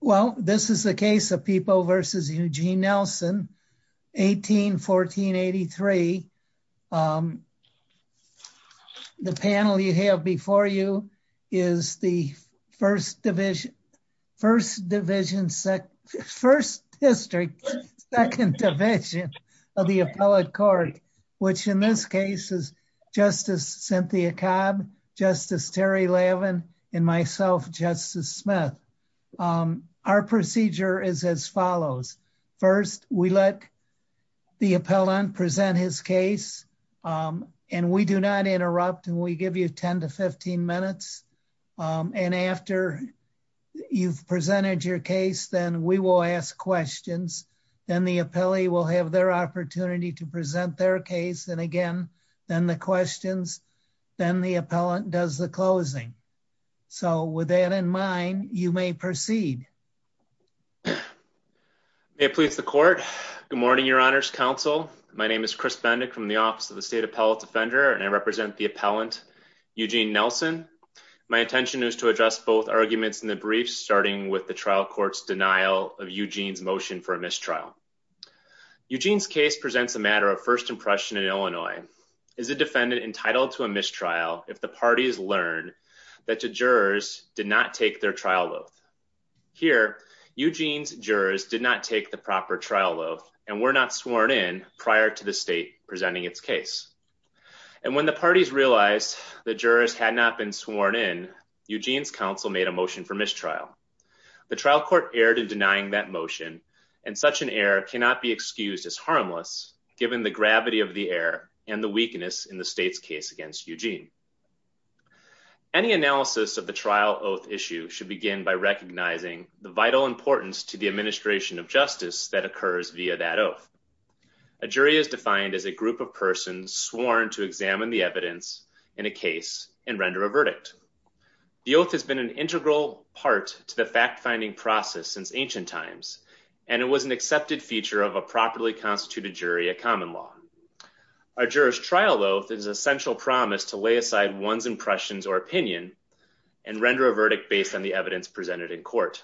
Well, this is the case of People v. Eugene Nelson, 18-14-83. The panel you have before you is the First Division, First Division, First District, Second Division of the Appellate Court, which in this case is Justice Cynthia Cobb, Justice Terry Lavin, and myself, Justice Smith. Our procedure is as follows. First, we let the appellant present his case, and we do not interrupt, and we give you 10-15 minutes. And after you've presented your case, then we will ask questions. Then the appellee will have their opportunity to present their case, and again, then the questions. Then the appellant does the closing. So with that in mind, you may proceed. May it please the Court. Good morning, Your Honors Counsel. My name is Chris Bendick from the Office of the State Appellate Defender, and I represent the appellant, Eugene Nelson. My intention is to address both arguments in the brief, starting with the trial court's denial of Eugene's motion for a mistrial. Eugene's case presents a matter of first impression in Illinois. Is a defendant entitled to a mistrial if the parties learn that the jurors did not take their trial oath? Here, Eugene's jurors did not take the proper trial oath and were not sworn in prior to the state presenting its case. And when the parties realized the jurors had not been sworn in, Eugene's counsel made a motion for mistrial. The trial court erred in denying that motion, and such an error cannot be excused as harmless given the gravity of the error and the weakness in the state's case against Eugene. Any analysis of the trial oath issue should begin by recognizing the vital importance to the administration of justice that occurs via that oath. A jury is defined as a group of persons sworn to examine the evidence in a case and render a verdict. The oath has been an integral part to the fact-finding process since ancient times, and it was an accepted feature of a properly constituted jury at common law. A juror's trial oath is an essential promise to lay aside one's impressions or opinion and render a verdict based on the evidence presented in court.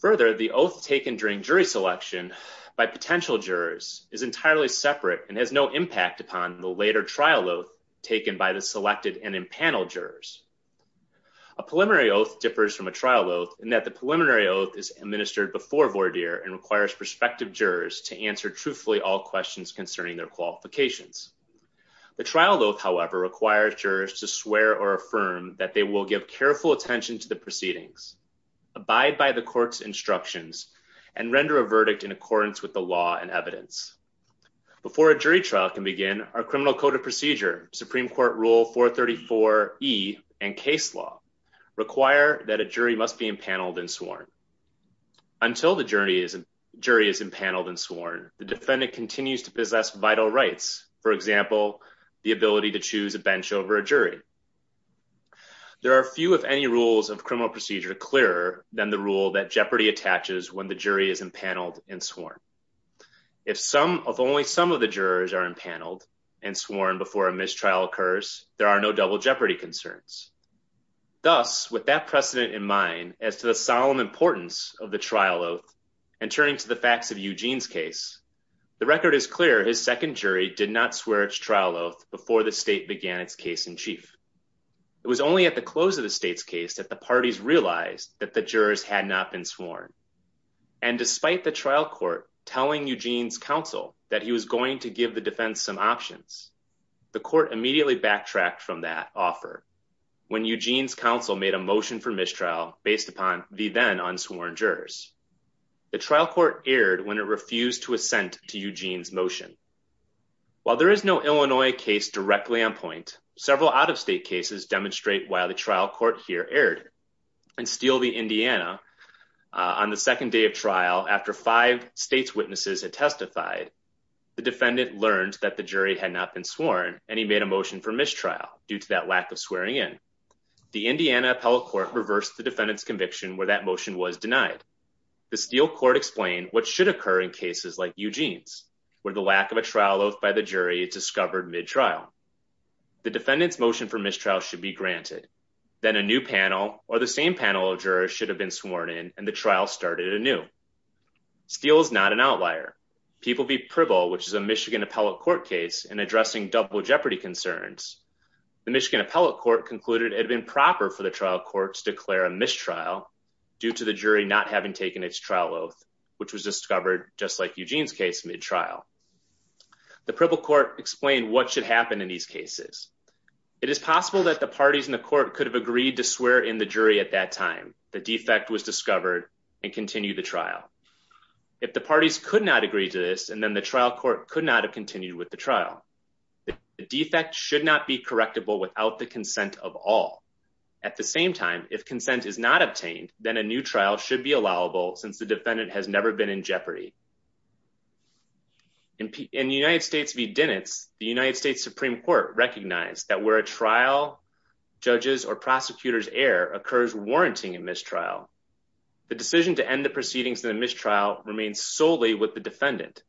Further, the oath taken during jury selection by potential jurors is entirely separate and has no impact upon the trial oath taken by the selected and impaneled jurors. A preliminary oath differs from a trial oath in that the preliminary oath is administered before voir dire and requires prospective jurors to answer truthfully all questions concerning their qualifications. The trial oath, however, requires jurors to swear or affirm that they will give careful attention to the proceedings, abide by the court's instructions, and render a verdict in accordance with the law and evidence. Before a jury trial can begin, our Criminal Code of Procedure, Supreme Court Rule 434E, and case law require that a jury must be impaneled and sworn. Until the jury is impaneled and sworn, the defendant continues to possess vital rights, for example, the ability to choose a bench over a jury. There are few, if any, rules of criminal procedure clearer than the rule that jeopardy attaches when the jury is impaneled and sworn. If only some of the jurors are impaneled and sworn before a mistrial occurs, there are no double jeopardy concerns. Thus, with that precedent in mind as to the solemn importance of the trial oath, and turning to the facts of Eugene's case, the record is clear his second jury did not swear its trial oath before the state began its case in chief. It was only at the close of the state's case that the parties realized that the jurors had not been sworn. And despite the trial court telling Eugene's counsel that he was going to give the defense some options, the court immediately backtracked from that offer when Eugene's counsel made a motion for mistrial based upon the then unsworn jurors. The trial court erred when it refused to assent to Eugene's motion. While there is no Illinois case directly on point, several out-of-state cases demonstrate why the trial court here erred. In Steele v. Indiana, on the second day of trial, after five state's witnesses had testified, the defendant learned that the jury had not been sworn, and he made a motion for mistrial due to that lack of swearing in. The Indiana appellate court reversed the defendant's conviction where that motion was denied. The Steele court explained what should occur in cases like Eugene's, where the lack of a trial oath by the jury is discovered mid-trial. The defendant's motion for mistrial should be granted. Then a new panel or the same panel of jurors should have been sworn in, and the trial started anew. Steele is not an outlier. People v. Pribble, which is a Michigan appellate court case in addressing double jeopardy concerns, the Michigan appellate court concluded it had been proper for the trial court to declare a mistrial due to the jury not having taken its trial oath, which was discovered just like Eugene's case mid-trial. The Pribble court explained what should happen in these cases. It is possible that the parties in the court could have agreed to swear in the jury at that time, the defect was discovered, and continue the trial. If the parties could not agree to this, and then the trial court could not have continued with the trial. The defect should not be correctable without the consent of all. At the same time, if consent is not obtained, then a new trial should be allowable since the in the United States v. Dinitz, the United States Supreme Court recognized that where a trial, judges, or prosecutors err occurs warranting a mistrial. The decision to end the proceedings in the mistrial remains solely with the defendant.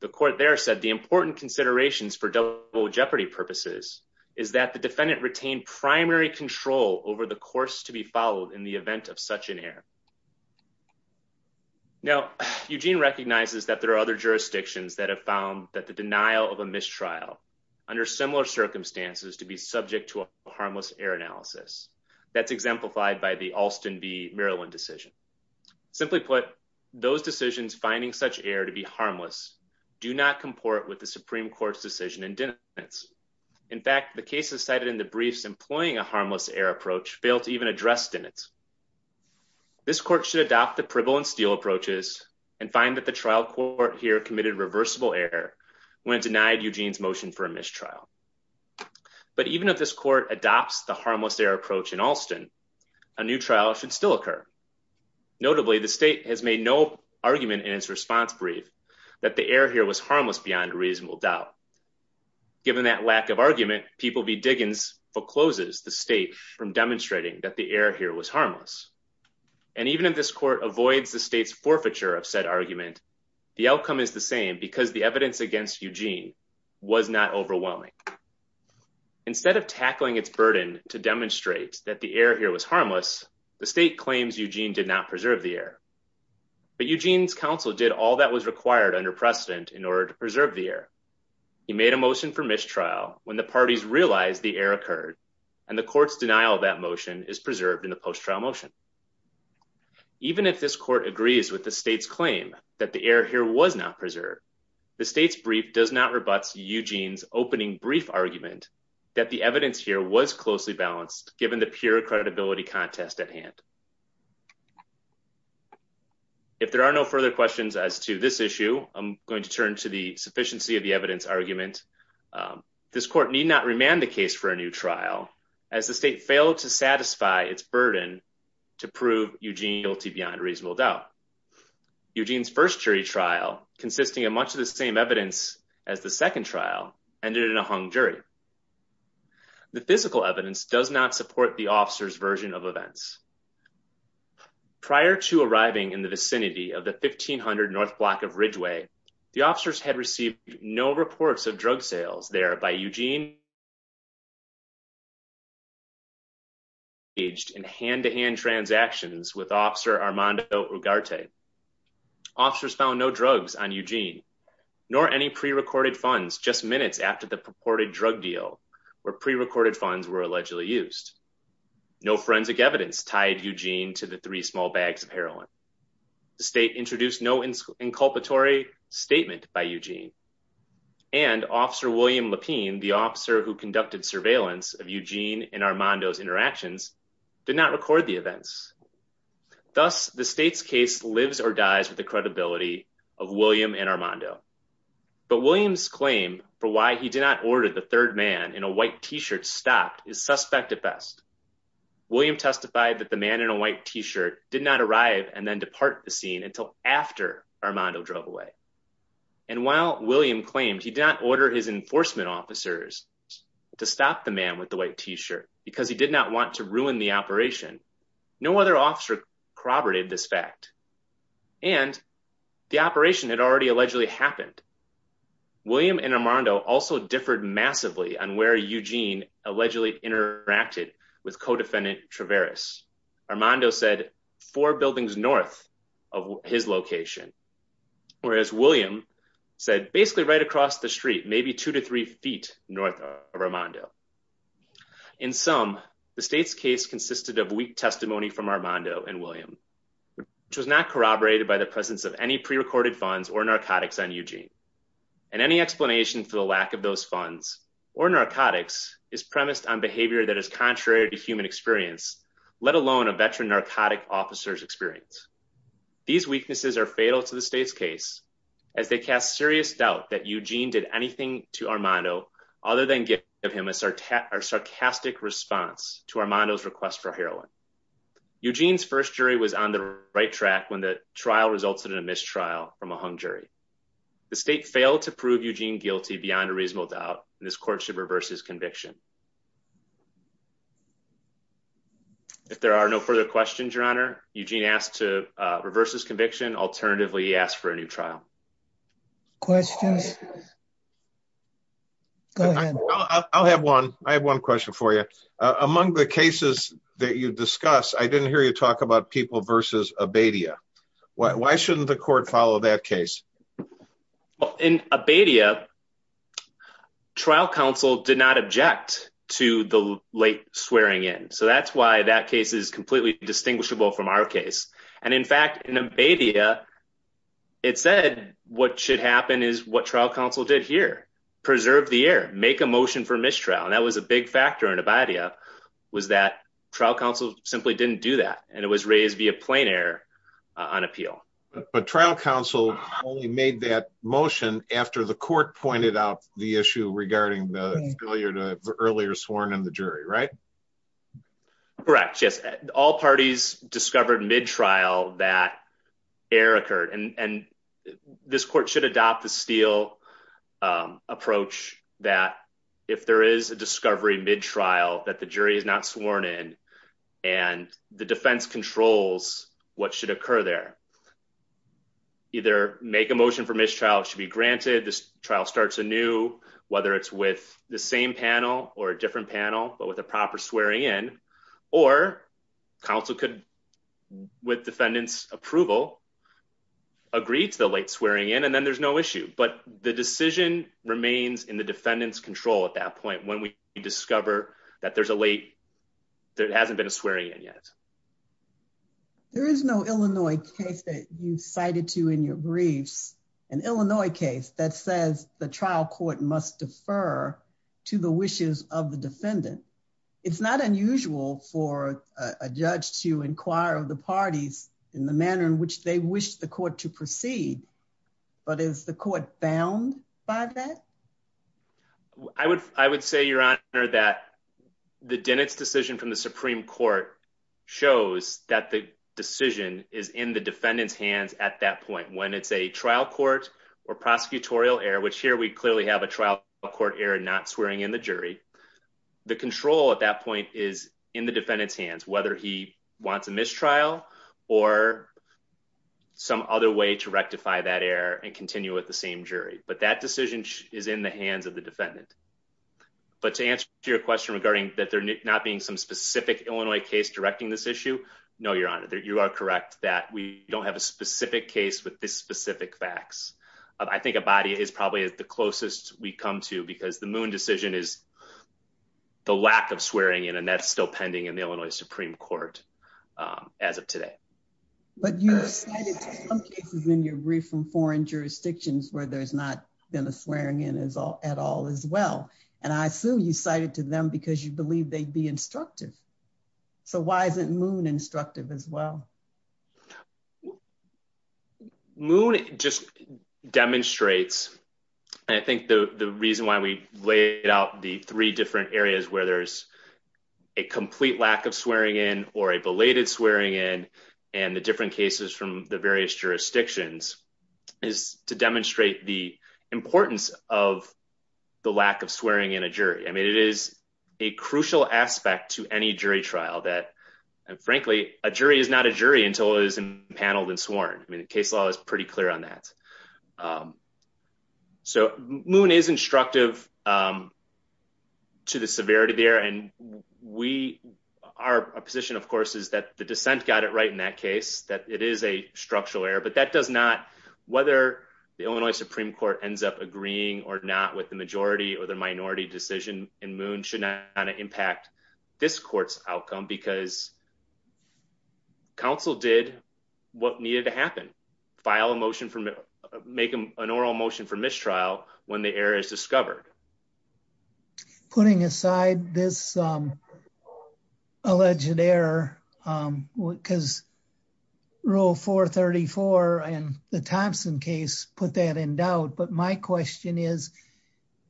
The court there said the important considerations for double jeopardy purposes is that the defendant retained primary control over the course to be that have found that the denial of a mistrial under similar circumstances to be subject to a harmless error analysis. That's exemplified by the Alston v. Maryland decision. Simply put, those decisions finding such error to be harmless do not comport with the Supreme Court's decision in Dinitz. In fact, the cases cited in the briefs employing a harmless error approach failed to even address Dinitz. This court should adopt the Pribble and Steele approaches and find the trial court here committed reversible error when it denied Eugene's motion for a mistrial. But even if this court adopts the harmless error approach in Alston, a new trial should still occur. Notably, the state has made no argument in its response brief that the error here was harmless beyond reasonable doubt. Given that lack of argument, people v. Diggins forecloses the state from demonstrating that the error here was harmless. And even if this court avoids the the outcome is the same because the evidence against Eugene was not overwhelming. Instead of tackling its burden to demonstrate that the error here was harmless, the state claims Eugene did not preserve the error. But Eugene's counsel did all that was required under precedent in order to preserve the error. He made a motion for mistrial when the parties realized the error occurred, and the court's denial of that motion is preserved in the post-trial motion. Even if this court agrees with the state's claim that the error here was not preserved, the state's brief does not rebut Eugene's opening brief argument that the evidence here was closely balanced given the pure credibility contest at hand. If there are no further questions as to this issue, I'm going to turn to the sufficiency of the evidence argument. This court need not remand the case for a new trial as the state failed to satisfy its burden to prove Eugene guilty beyond reasonable doubt. Eugene's first jury trial, consisting of much of the same evidence as the second trial, ended in a hung jury. The physical evidence does not support the officer's version of events. Prior to arriving in the vicinity of the 1500 North Block of Ridgeway, the officers had received no reports of drug sales there by Eugene. They engaged in hand-to-hand transactions with Officer Armando Ugarte. Officers found no drugs on Eugene, nor any pre-recorded funds just minutes after the purported drug deal where pre-recorded funds were allegedly used. No forensic evidence tied Eugene to the three small bags of heroin. The state introduced no inculpatory statement by Eugene, and Officer William Lapine, the officer who conducted surveillance of Eugene and Armando's interactions, did not record the events. Thus, the state's case lives or dies with the credibility of William and Armando. But William's claim for why he did not order the third man in a white t-shirt stopped is suspect at best. William testified that the man in a white t-shirt did not arrive and then depart the scene until after Armando drove away. And while William claimed he did not order his enforcement officers to stop the man with the white t-shirt because he did not want to ruin the operation, no other officer corroborated this fact. And the operation had already allegedly happened. William and Armando also differed massively on where Eugene allegedly interacted with co-defendant Traveris. Armando said four buildings north of his location, whereas William said basically right across the street, maybe two to three feet north of Armando. In sum, the state's case consisted of weak testimony from Armando and William, which was not corroborated by the presence of any pre-recorded funds or narcotics on Eugene. And any explanation for the lack of those funds or narcotics is premised on behavior that is contrary to human experience, let alone a veteran narcotic officer's experience. These weaknesses are fatal to the state's case as they serious doubt that Eugene did anything to Armando other than give him a sarcastic response to Armando's request for heroin. Eugene's first jury was on the right track when the trial resulted in a mistrial from a hung jury. The state failed to prove Eugene guilty beyond a reasonable doubt, and this court should reverse his conviction. If there are no further questions, Your Honor, Eugene asked to reverse his conviction. Alternatively, he asked for a new trial. Questions? Go ahead. I'll have one. I have one question for you. Among the cases that you discuss, I didn't hear you talk about people versus Abadia. Why shouldn't the court follow that case? In Abadia, trial counsel did not object to the late swearing in. So that's why that case is our case. And in fact, in Abadia, it said what should happen is what trial counsel did here, preserve the air, make a motion for mistrial. And that was a big factor in Abadia was that trial counsel simply didn't do that. And it was raised via plain air on appeal. But trial counsel only made that motion after the court pointed out the issue regarding the earlier sworn in the jury, right? Correct. Yes. All parties discovered mid trial that air occurred, and this court should adopt the steel approach that if there is a discovery mid trial that the jury is not sworn in and the defense controls what should occur there. Either make a motion for mistrial should be granted. This trial starts anew, whether it's with the same panel or a different panel, but with a proper swearing in, or counsel could with defendants approval, agreed to the late swearing in and then there's no issue. But the decision remains in the defendants control at that point when we discover that there's a late, there hasn't been a swearing in yet. There is no Illinois case that you cited to in your briefs, an Illinois case that says the trial court must defer to the wishes of the defendant. It's not unusual for a judge to inquire of the parties in the manner in which they wish the court to proceed. But is the court bound by that? I would, I would say your honor that the Dennett's decision from the Supreme Court shows that the decision is in the defendants hands at that point when it's a trial court or prosecutorial error, which here we clearly have a trial court error, not swearing in the jury. The control at that point is in the defendants hands, whether he wants a mistrial or some other way to rectify that error and continue with the same jury. But that decision is in the hands of the defendant. But to answer your question regarding that there not being some specific Illinois case directing this issue. No, your honor, you are correct that we don't have a specific case with this specific facts. I think a body is probably the closest we come to because the Moon decision is the lack of swearing in and that's still pending in the Illinois Supreme Court as of today. But you cited some cases in your brief from foreign jurisdictions where there's not been a swearing in as all at all as well. And I assume you cited to them because you Moon just demonstrates. I think the reason why we laid out the three different areas where there's a complete lack of swearing in or a belated swearing in and the different cases from the various jurisdictions is to demonstrate the importance of the lack of swearing in a jury. I mean, it is a crucial aspect to any jury trial that, frankly, a jury is not a jury until it is paneled and sworn. I mean, the case law is pretty clear on that. So Moon is instructive to the severity there. And we are a position, of course, is that the dissent got it right in that case that it is a structural error. But that does not whether the Illinois Supreme Court ends up agreeing or not with the majority or the minority decision in Moon should not impact this court's what needed to happen. File a motion for make an oral motion for mistrial when the error is discovered. Putting aside this alleged error because rule 434 and the Thompson case put that in doubt. But my question is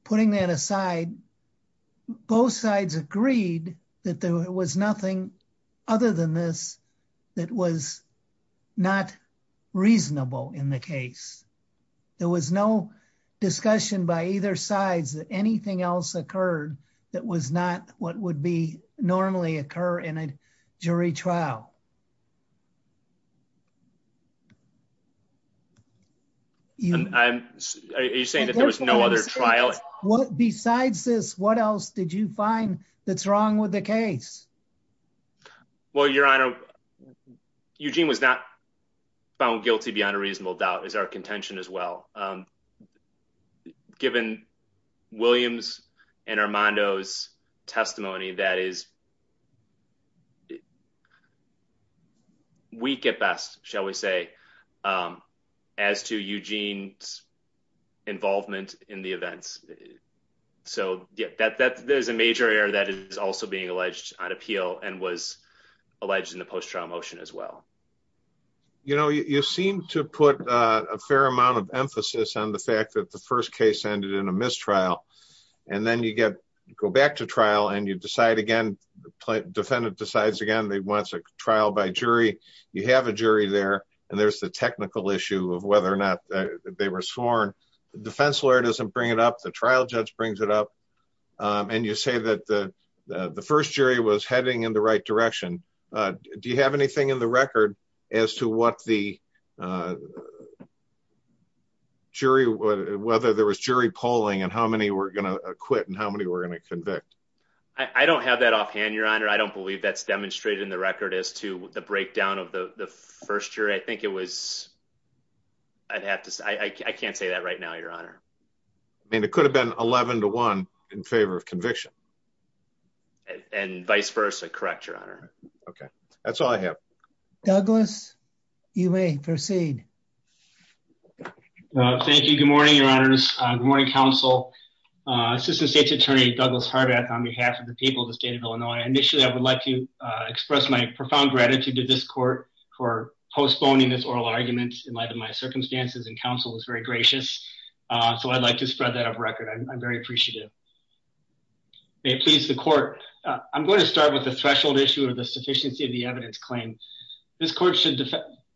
putting that aside, both sides agreed that there was nothing other than this that was not reasonable in the case. There was no discussion by either sides that anything else occurred that was not what would be normally occur in a jury trial. I'm saying that there was no other trial. Besides this, what else did you find that's wrong with the case? Well, Your Honor, Eugene was not found guilty beyond a reasonable doubt is our contention as well. Given Williams and Armando's testimony, that is. We get best, shall we say, as to Eugene's involvement in the events. So that there's a appeal and was alleged in the post trial motion as well. You know, you seem to put a fair amount of emphasis on the fact that the first case ended in a mistrial and then you get go back to trial and you decide again. Defendant decides again. They want a trial by jury. You have a jury there and there's the technical issue of whether or not they were sworn. The defense lawyer doesn't bring it up. The trial judge brings it up. And you say that the first jury was heading in the right direction. Do you have anything in the record as to what the jury, whether there was jury polling and how many were going to quit and how many were going to convict? I don't have that offhand. Your Honor, I don't believe that's demonstrated in the record as to the breakdown of the first year. I think it was. I'd have to say I can't say that right now, Your Honor. I mean, it could have been 11 to one in favor of conviction. And vice versa. Correct, Your Honor. Okay, that's all I have. Douglas, you may proceed. Thank you. Good morning, Your Honors. Good morning, counsel. Assistant State's Attorney Douglas Harvath on behalf of the people of the state of Illinois. Initially, I would like to express my profound gratitude to this court for postponing this oral argument in light of my circumstances and counsel was very gracious. So I'd like to spread that off record. I'm very appreciative. May it please the court. I'm going to start with the threshold issue of the sufficiency of the evidence claim. This court should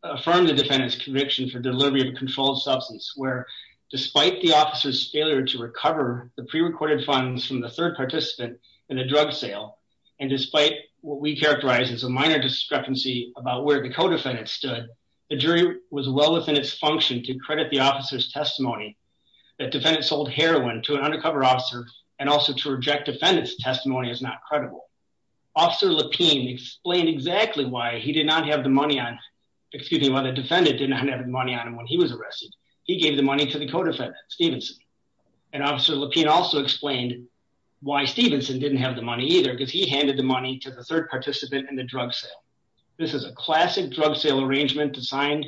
affirm the defendant's conviction for delivery of a controlled substance where despite the officer's failure to recover the prerecorded funds from the third participant in the drug sale. And despite what we characterize as a minor discrepancy about where the codefendant stood, the jury was well within its function to credit the officer's testimony. That defendant sold heroin to an undercover officer and also to reject defendant's testimony is not credible. Officer Lapine explained exactly why he did not have the money on, excuse me, why the defendant didn't have the money on him when he was arrested. He gave the money to the codefendant, Stevenson. And Officer Lapine also explained why Stevenson didn't have the money either because he handed the money to the third participant and the drug sale. This is a classic drug sale arrangement designed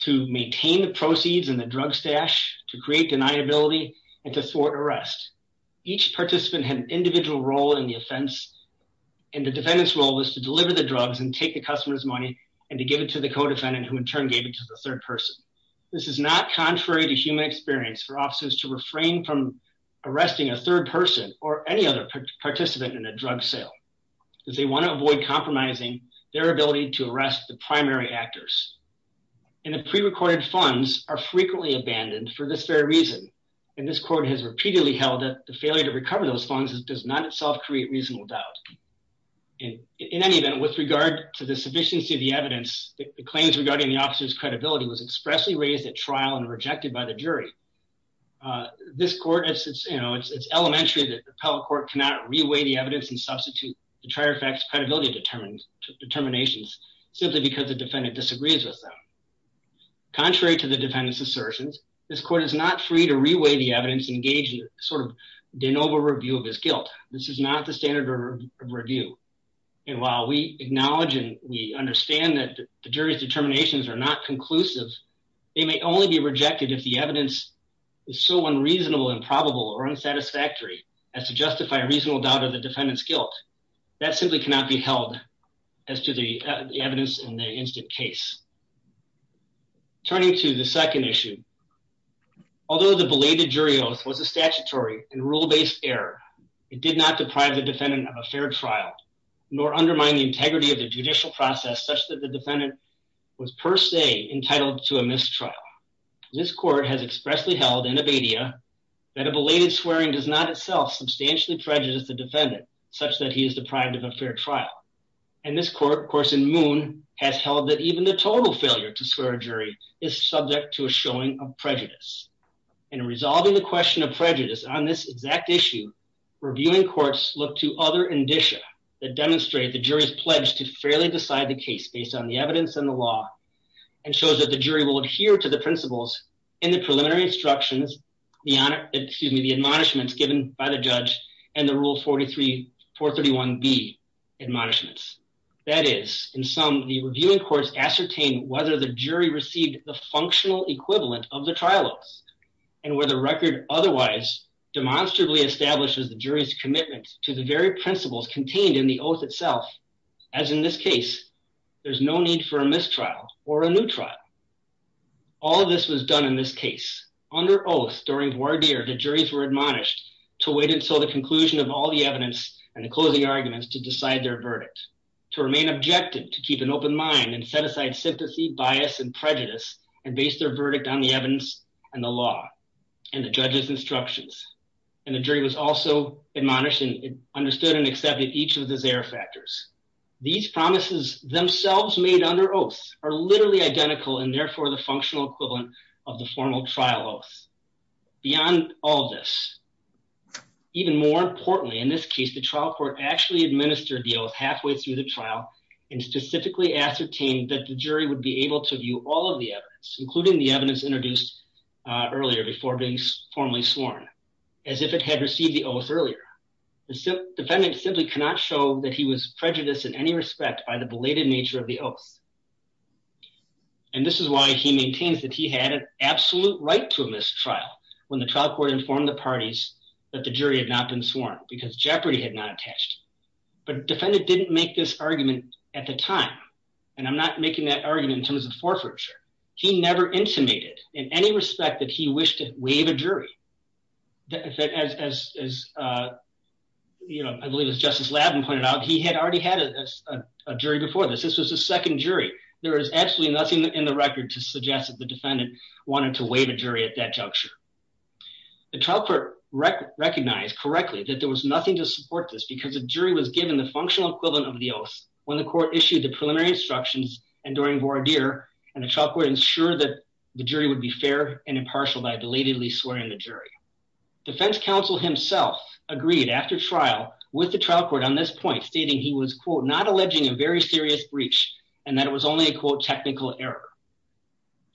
to maintain the proceeds and the drug stash to create deniability and to thwart arrest. Each participant had an individual role in the offense and the defendant's role was to deliver the drugs and take the customer's money and to give it to the codefendant who in turn gave it to the third person. This is not contrary to human experience for officers to refrain from arresting a third person or any other participant in a drug sale because they want to avoid compromising their ability to arrest the primary actors. And the prerecorded funds are frequently abandoned for this very reason. And this court has repeatedly held that the failure to recover those funds does not itself create reasonable doubt. And in any event, with regard to the sufficiency of the evidence, the claims regarding the officer's credibility was expressly raised at trial and rejected by the jury. This court, you know, it's elementary that the appellate court cannot re-weigh the evidence and substitute the trier facts credibility determinations simply because the defendant disagrees with them. Contrary to the defendant's assertions, this court is not free to re-weigh the evidence and engage in sort of de novo review of his guilt. This is not the standard of review. And while we acknowledge and we understand that the jury's determinations are not conclusive, they may only be rejected if the evidence is so unreasonable and probable or unsatisfactory as to justify a reasonable doubt of the defendant's guilt. That simply cannot be held as to the evidence in the instant case. Turning to the second issue, although the belated jury oath was a statutory and rule-based error, it did not deprive the defendant of a fair trial nor undermine the integrity of the judicial process such that the defendant was per se entitled to a mistrial. This court has expressly held in Abadia that a belated swearing does not itself substantially prejudice the defendant such that he is deprived of a fair trial. And this court, of course, in Moon has held that even the total failure to swear a jury is subject to a showing of prejudice. In resolving the question of prejudice on this exact issue, reviewing courts look to other indicia that demonstrate the jury's pledge to fairly decide the case based on the evidence and the law and shows that the jury will adhere to the principles in the preliminary instructions, the honor, excuse me, the admonishments given by the judge and the rule 43, 431B admonishments. That is, in sum, the reviewing courts ascertain whether the jury received the functional equivalent of the trial oaths and where the record otherwise demonstrably establishes the jury's commitment to the very principles contained in the oath itself, as in this case, there's no need for a mistrial or a new trial. All this was done in this case under oath during voir dire, the juries were admonished to wait until the conclusion of all the evidence and the closing arguments to decide their verdict, to remain objective, to keep an open mind and set aside sympathy, bias and prejudice and base their verdict on the evidence and the law and the judge's instructions. And the jury was also admonished and understood and these promises themselves made under oaths are literally identical and therefore the functional equivalent of the formal trial oaths. Beyond all of this, even more importantly, in this case, the trial court actually administered the oath halfway through the trial and specifically ascertained that the jury would be able to view all of the evidence, including the evidence introduced earlier before being formally sworn as if it had received the oath earlier. The prejudice in any respect by the belated nature of the oath. And this is why he maintains that he had an absolute right to a mistrial when the trial court informed the parties that the jury had not been sworn because jeopardy had not attached. But defendant didn't make this argument at the time. And I'm not making that argument in terms of forfeiture. He never intimated in any respect that he wished to waive a jury. As you know, I believe as Justice Lavin pointed out, he had already had a jury before this. This was the second jury. There is absolutely nothing in the record to suggest that the defendant wanted to waive a jury at that juncture. The trial court recognized correctly that there was nothing to support this because the jury was given the functional equivalent of the oaths when the court issued the preliminary instructions and during voir dire and the trial court ensured that the jury would be fair and impartial by belatedly swearing the jury. Defense counsel himself agreed after trial with the trial court on this point stating he was quote not alleging a very serious breach and that it was only a quote technical error.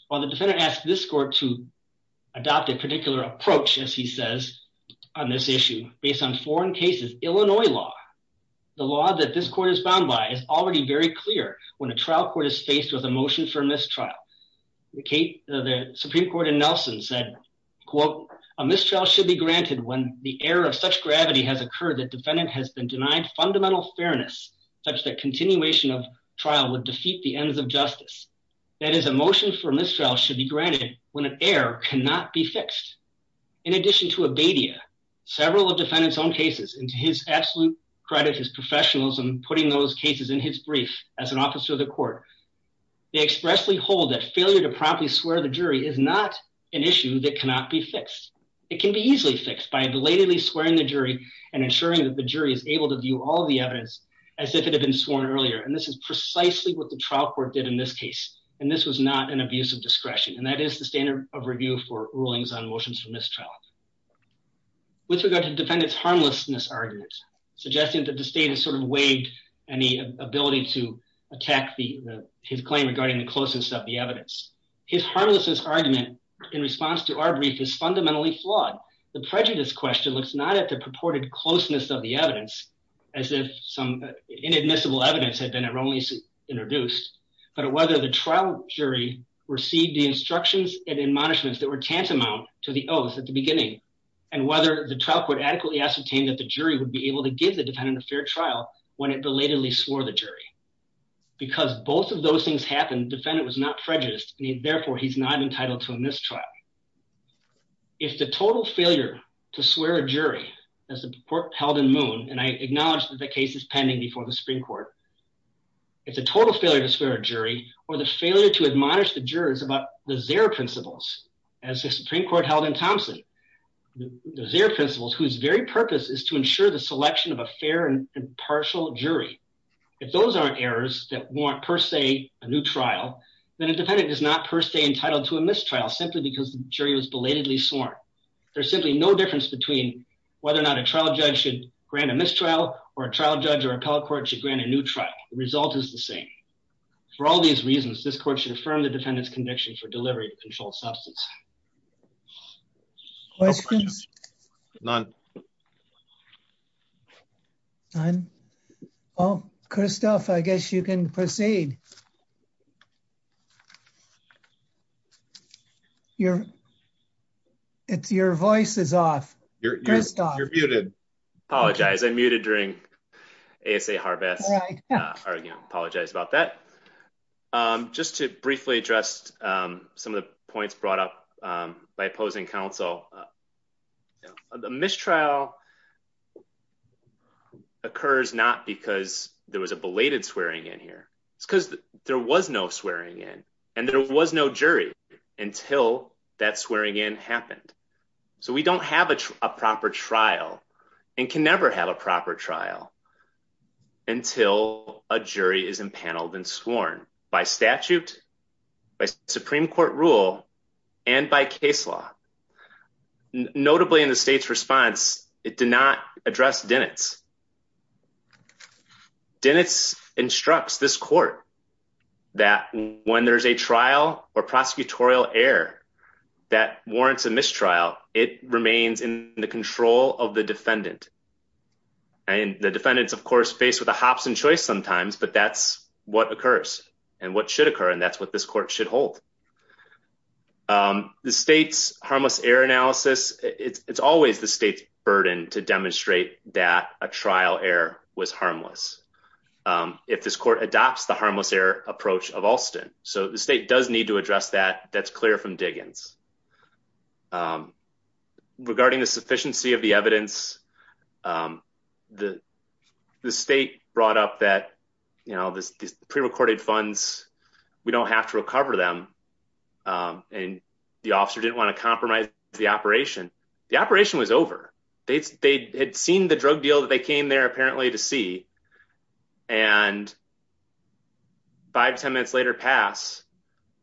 While the defendant asked this court to adopt a particular approach as he says on this issue based on foreign cases, Illinois law, the law that this court is bound by is already very clear when a trial court is faced with a motion for mistrial. The Supreme Court in Nelson said quote a mistrial should be granted when the error of such gravity has occurred that defendant has been denied fundamental fairness such that continuation of trial would defeat the ends of justice. That is a motion for mistrial should be granted when an error cannot be fixed. In addition to abadia, several of defendant's own cases and to his absolute credit, his brief as an officer of the court, they expressly hold that failure to promptly swear the jury is not an issue that cannot be fixed. It can be easily fixed by belatedly swearing the jury and ensuring that the jury is able to view all the evidence as if it had been sworn earlier and this is precisely what the trial court did in this case and this was not an abuse of discretion and that is the standard of review for rulings on motions for mistrial. With regard to defendant's harmlessness argument, suggesting that the state has sort of waived any ability to attack the his claim regarding the closeness of the evidence. His harmlessness argument in response to our brief is fundamentally flawed. The prejudice question looks not at the purported closeness of the evidence as if some inadmissible evidence had been erroneously introduced but whether the trial jury received the instructions and admonishments that were tantamount to the oath at the beginning and whether the trial court adequately ascertained that the jury would be able to give the defendant a fair trial when it belatedly swore the jury. Because both of those things happened, the defendant was not prejudiced and therefore he's not entitled to a mistrial. If the total failure to swear a jury as the court held in Moon and I acknowledge that the case is pending before the Supreme Court, if the total failure to swear a jury or the failure to admonish the jurors about the Zare principles as the Supreme Court held in Thompson, the Zare principles whose very purpose is to ensure the selection of a fair and partial jury. If those aren't errors that warrant per se a new trial, then a defendant is not per se entitled to a mistrial simply because the jury was belatedly sworn. There's simply no difference between whether or not a trial judge should grant a mistrial or a trial judge or appellate court should grant a new trial. The result is the same. For all these reasons, this court should affirm the defendant's conviction for delivery of controlled substance. Questions? None. None. Well, Christophe, I guess you can proceed. Your voice is off. You're muted. I apologize. I'm muted during the ASA Harvest argument. Apologize about that. Just to briefly address some of the points brought up by opposing counsel, the mistrial occurs not because there was a belated swearing in here. It's because there was no swearing in and there was no jury until that swearing in happened. So we don't have a proper trial and can never have a proper trial until a jury is empaneled and sworn by statute, by Supreme Court rule, and by case law. Notably in the state's response, it did not address Dennett's. Dennett's instructs this court that when there's a trial or prosecutorial error that warrants a trial, it remains in the control of the defendant. And the defendant is, of course, faced with a hops and choice sometimes, but that's what occurs and what should occur, and that's what this court should hold. The state's harmless error analysis, it's always the state's burden to demonstrate that a trial error was harmless if this court adopts the harmless error approach of Alston. So the state does need to address that. That's regarding the sufficiency of the evidence. The state brought up that, you know, these pre-recorded funds, we don't have to recover them. And the officer didn't want to compromise the operation. The operation was over. They had seen the drug deal that they came there apparently to see. And five, 10 minutes later pass,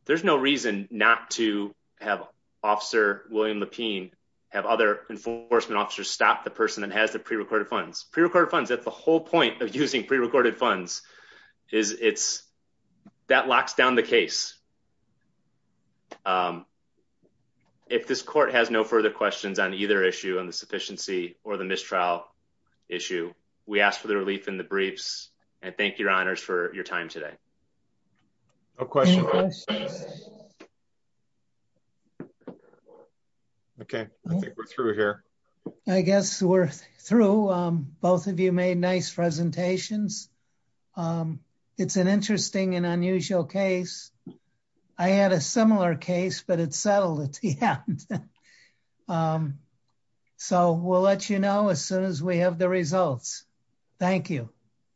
there's no reason not to have officer William Lapine, have other enforcement officers stop the person that has the pre-recorded funds. Pre-recorded funds, that's the whole point of using pre-recorded funds, is it's, that locks down the case. If this court has no further questions on either issue on the sufficiency or the mistrial issue, we ask for the relief in the briefs and thank your honors for your time today. No questions. Okay, I think we're through here. I guess we're through. Both of you made nice presentations. It's an interesting and unusual case. I had a similar case, but it settled at the end. Um, so we'll let you know as soon as we have the results. Thank you.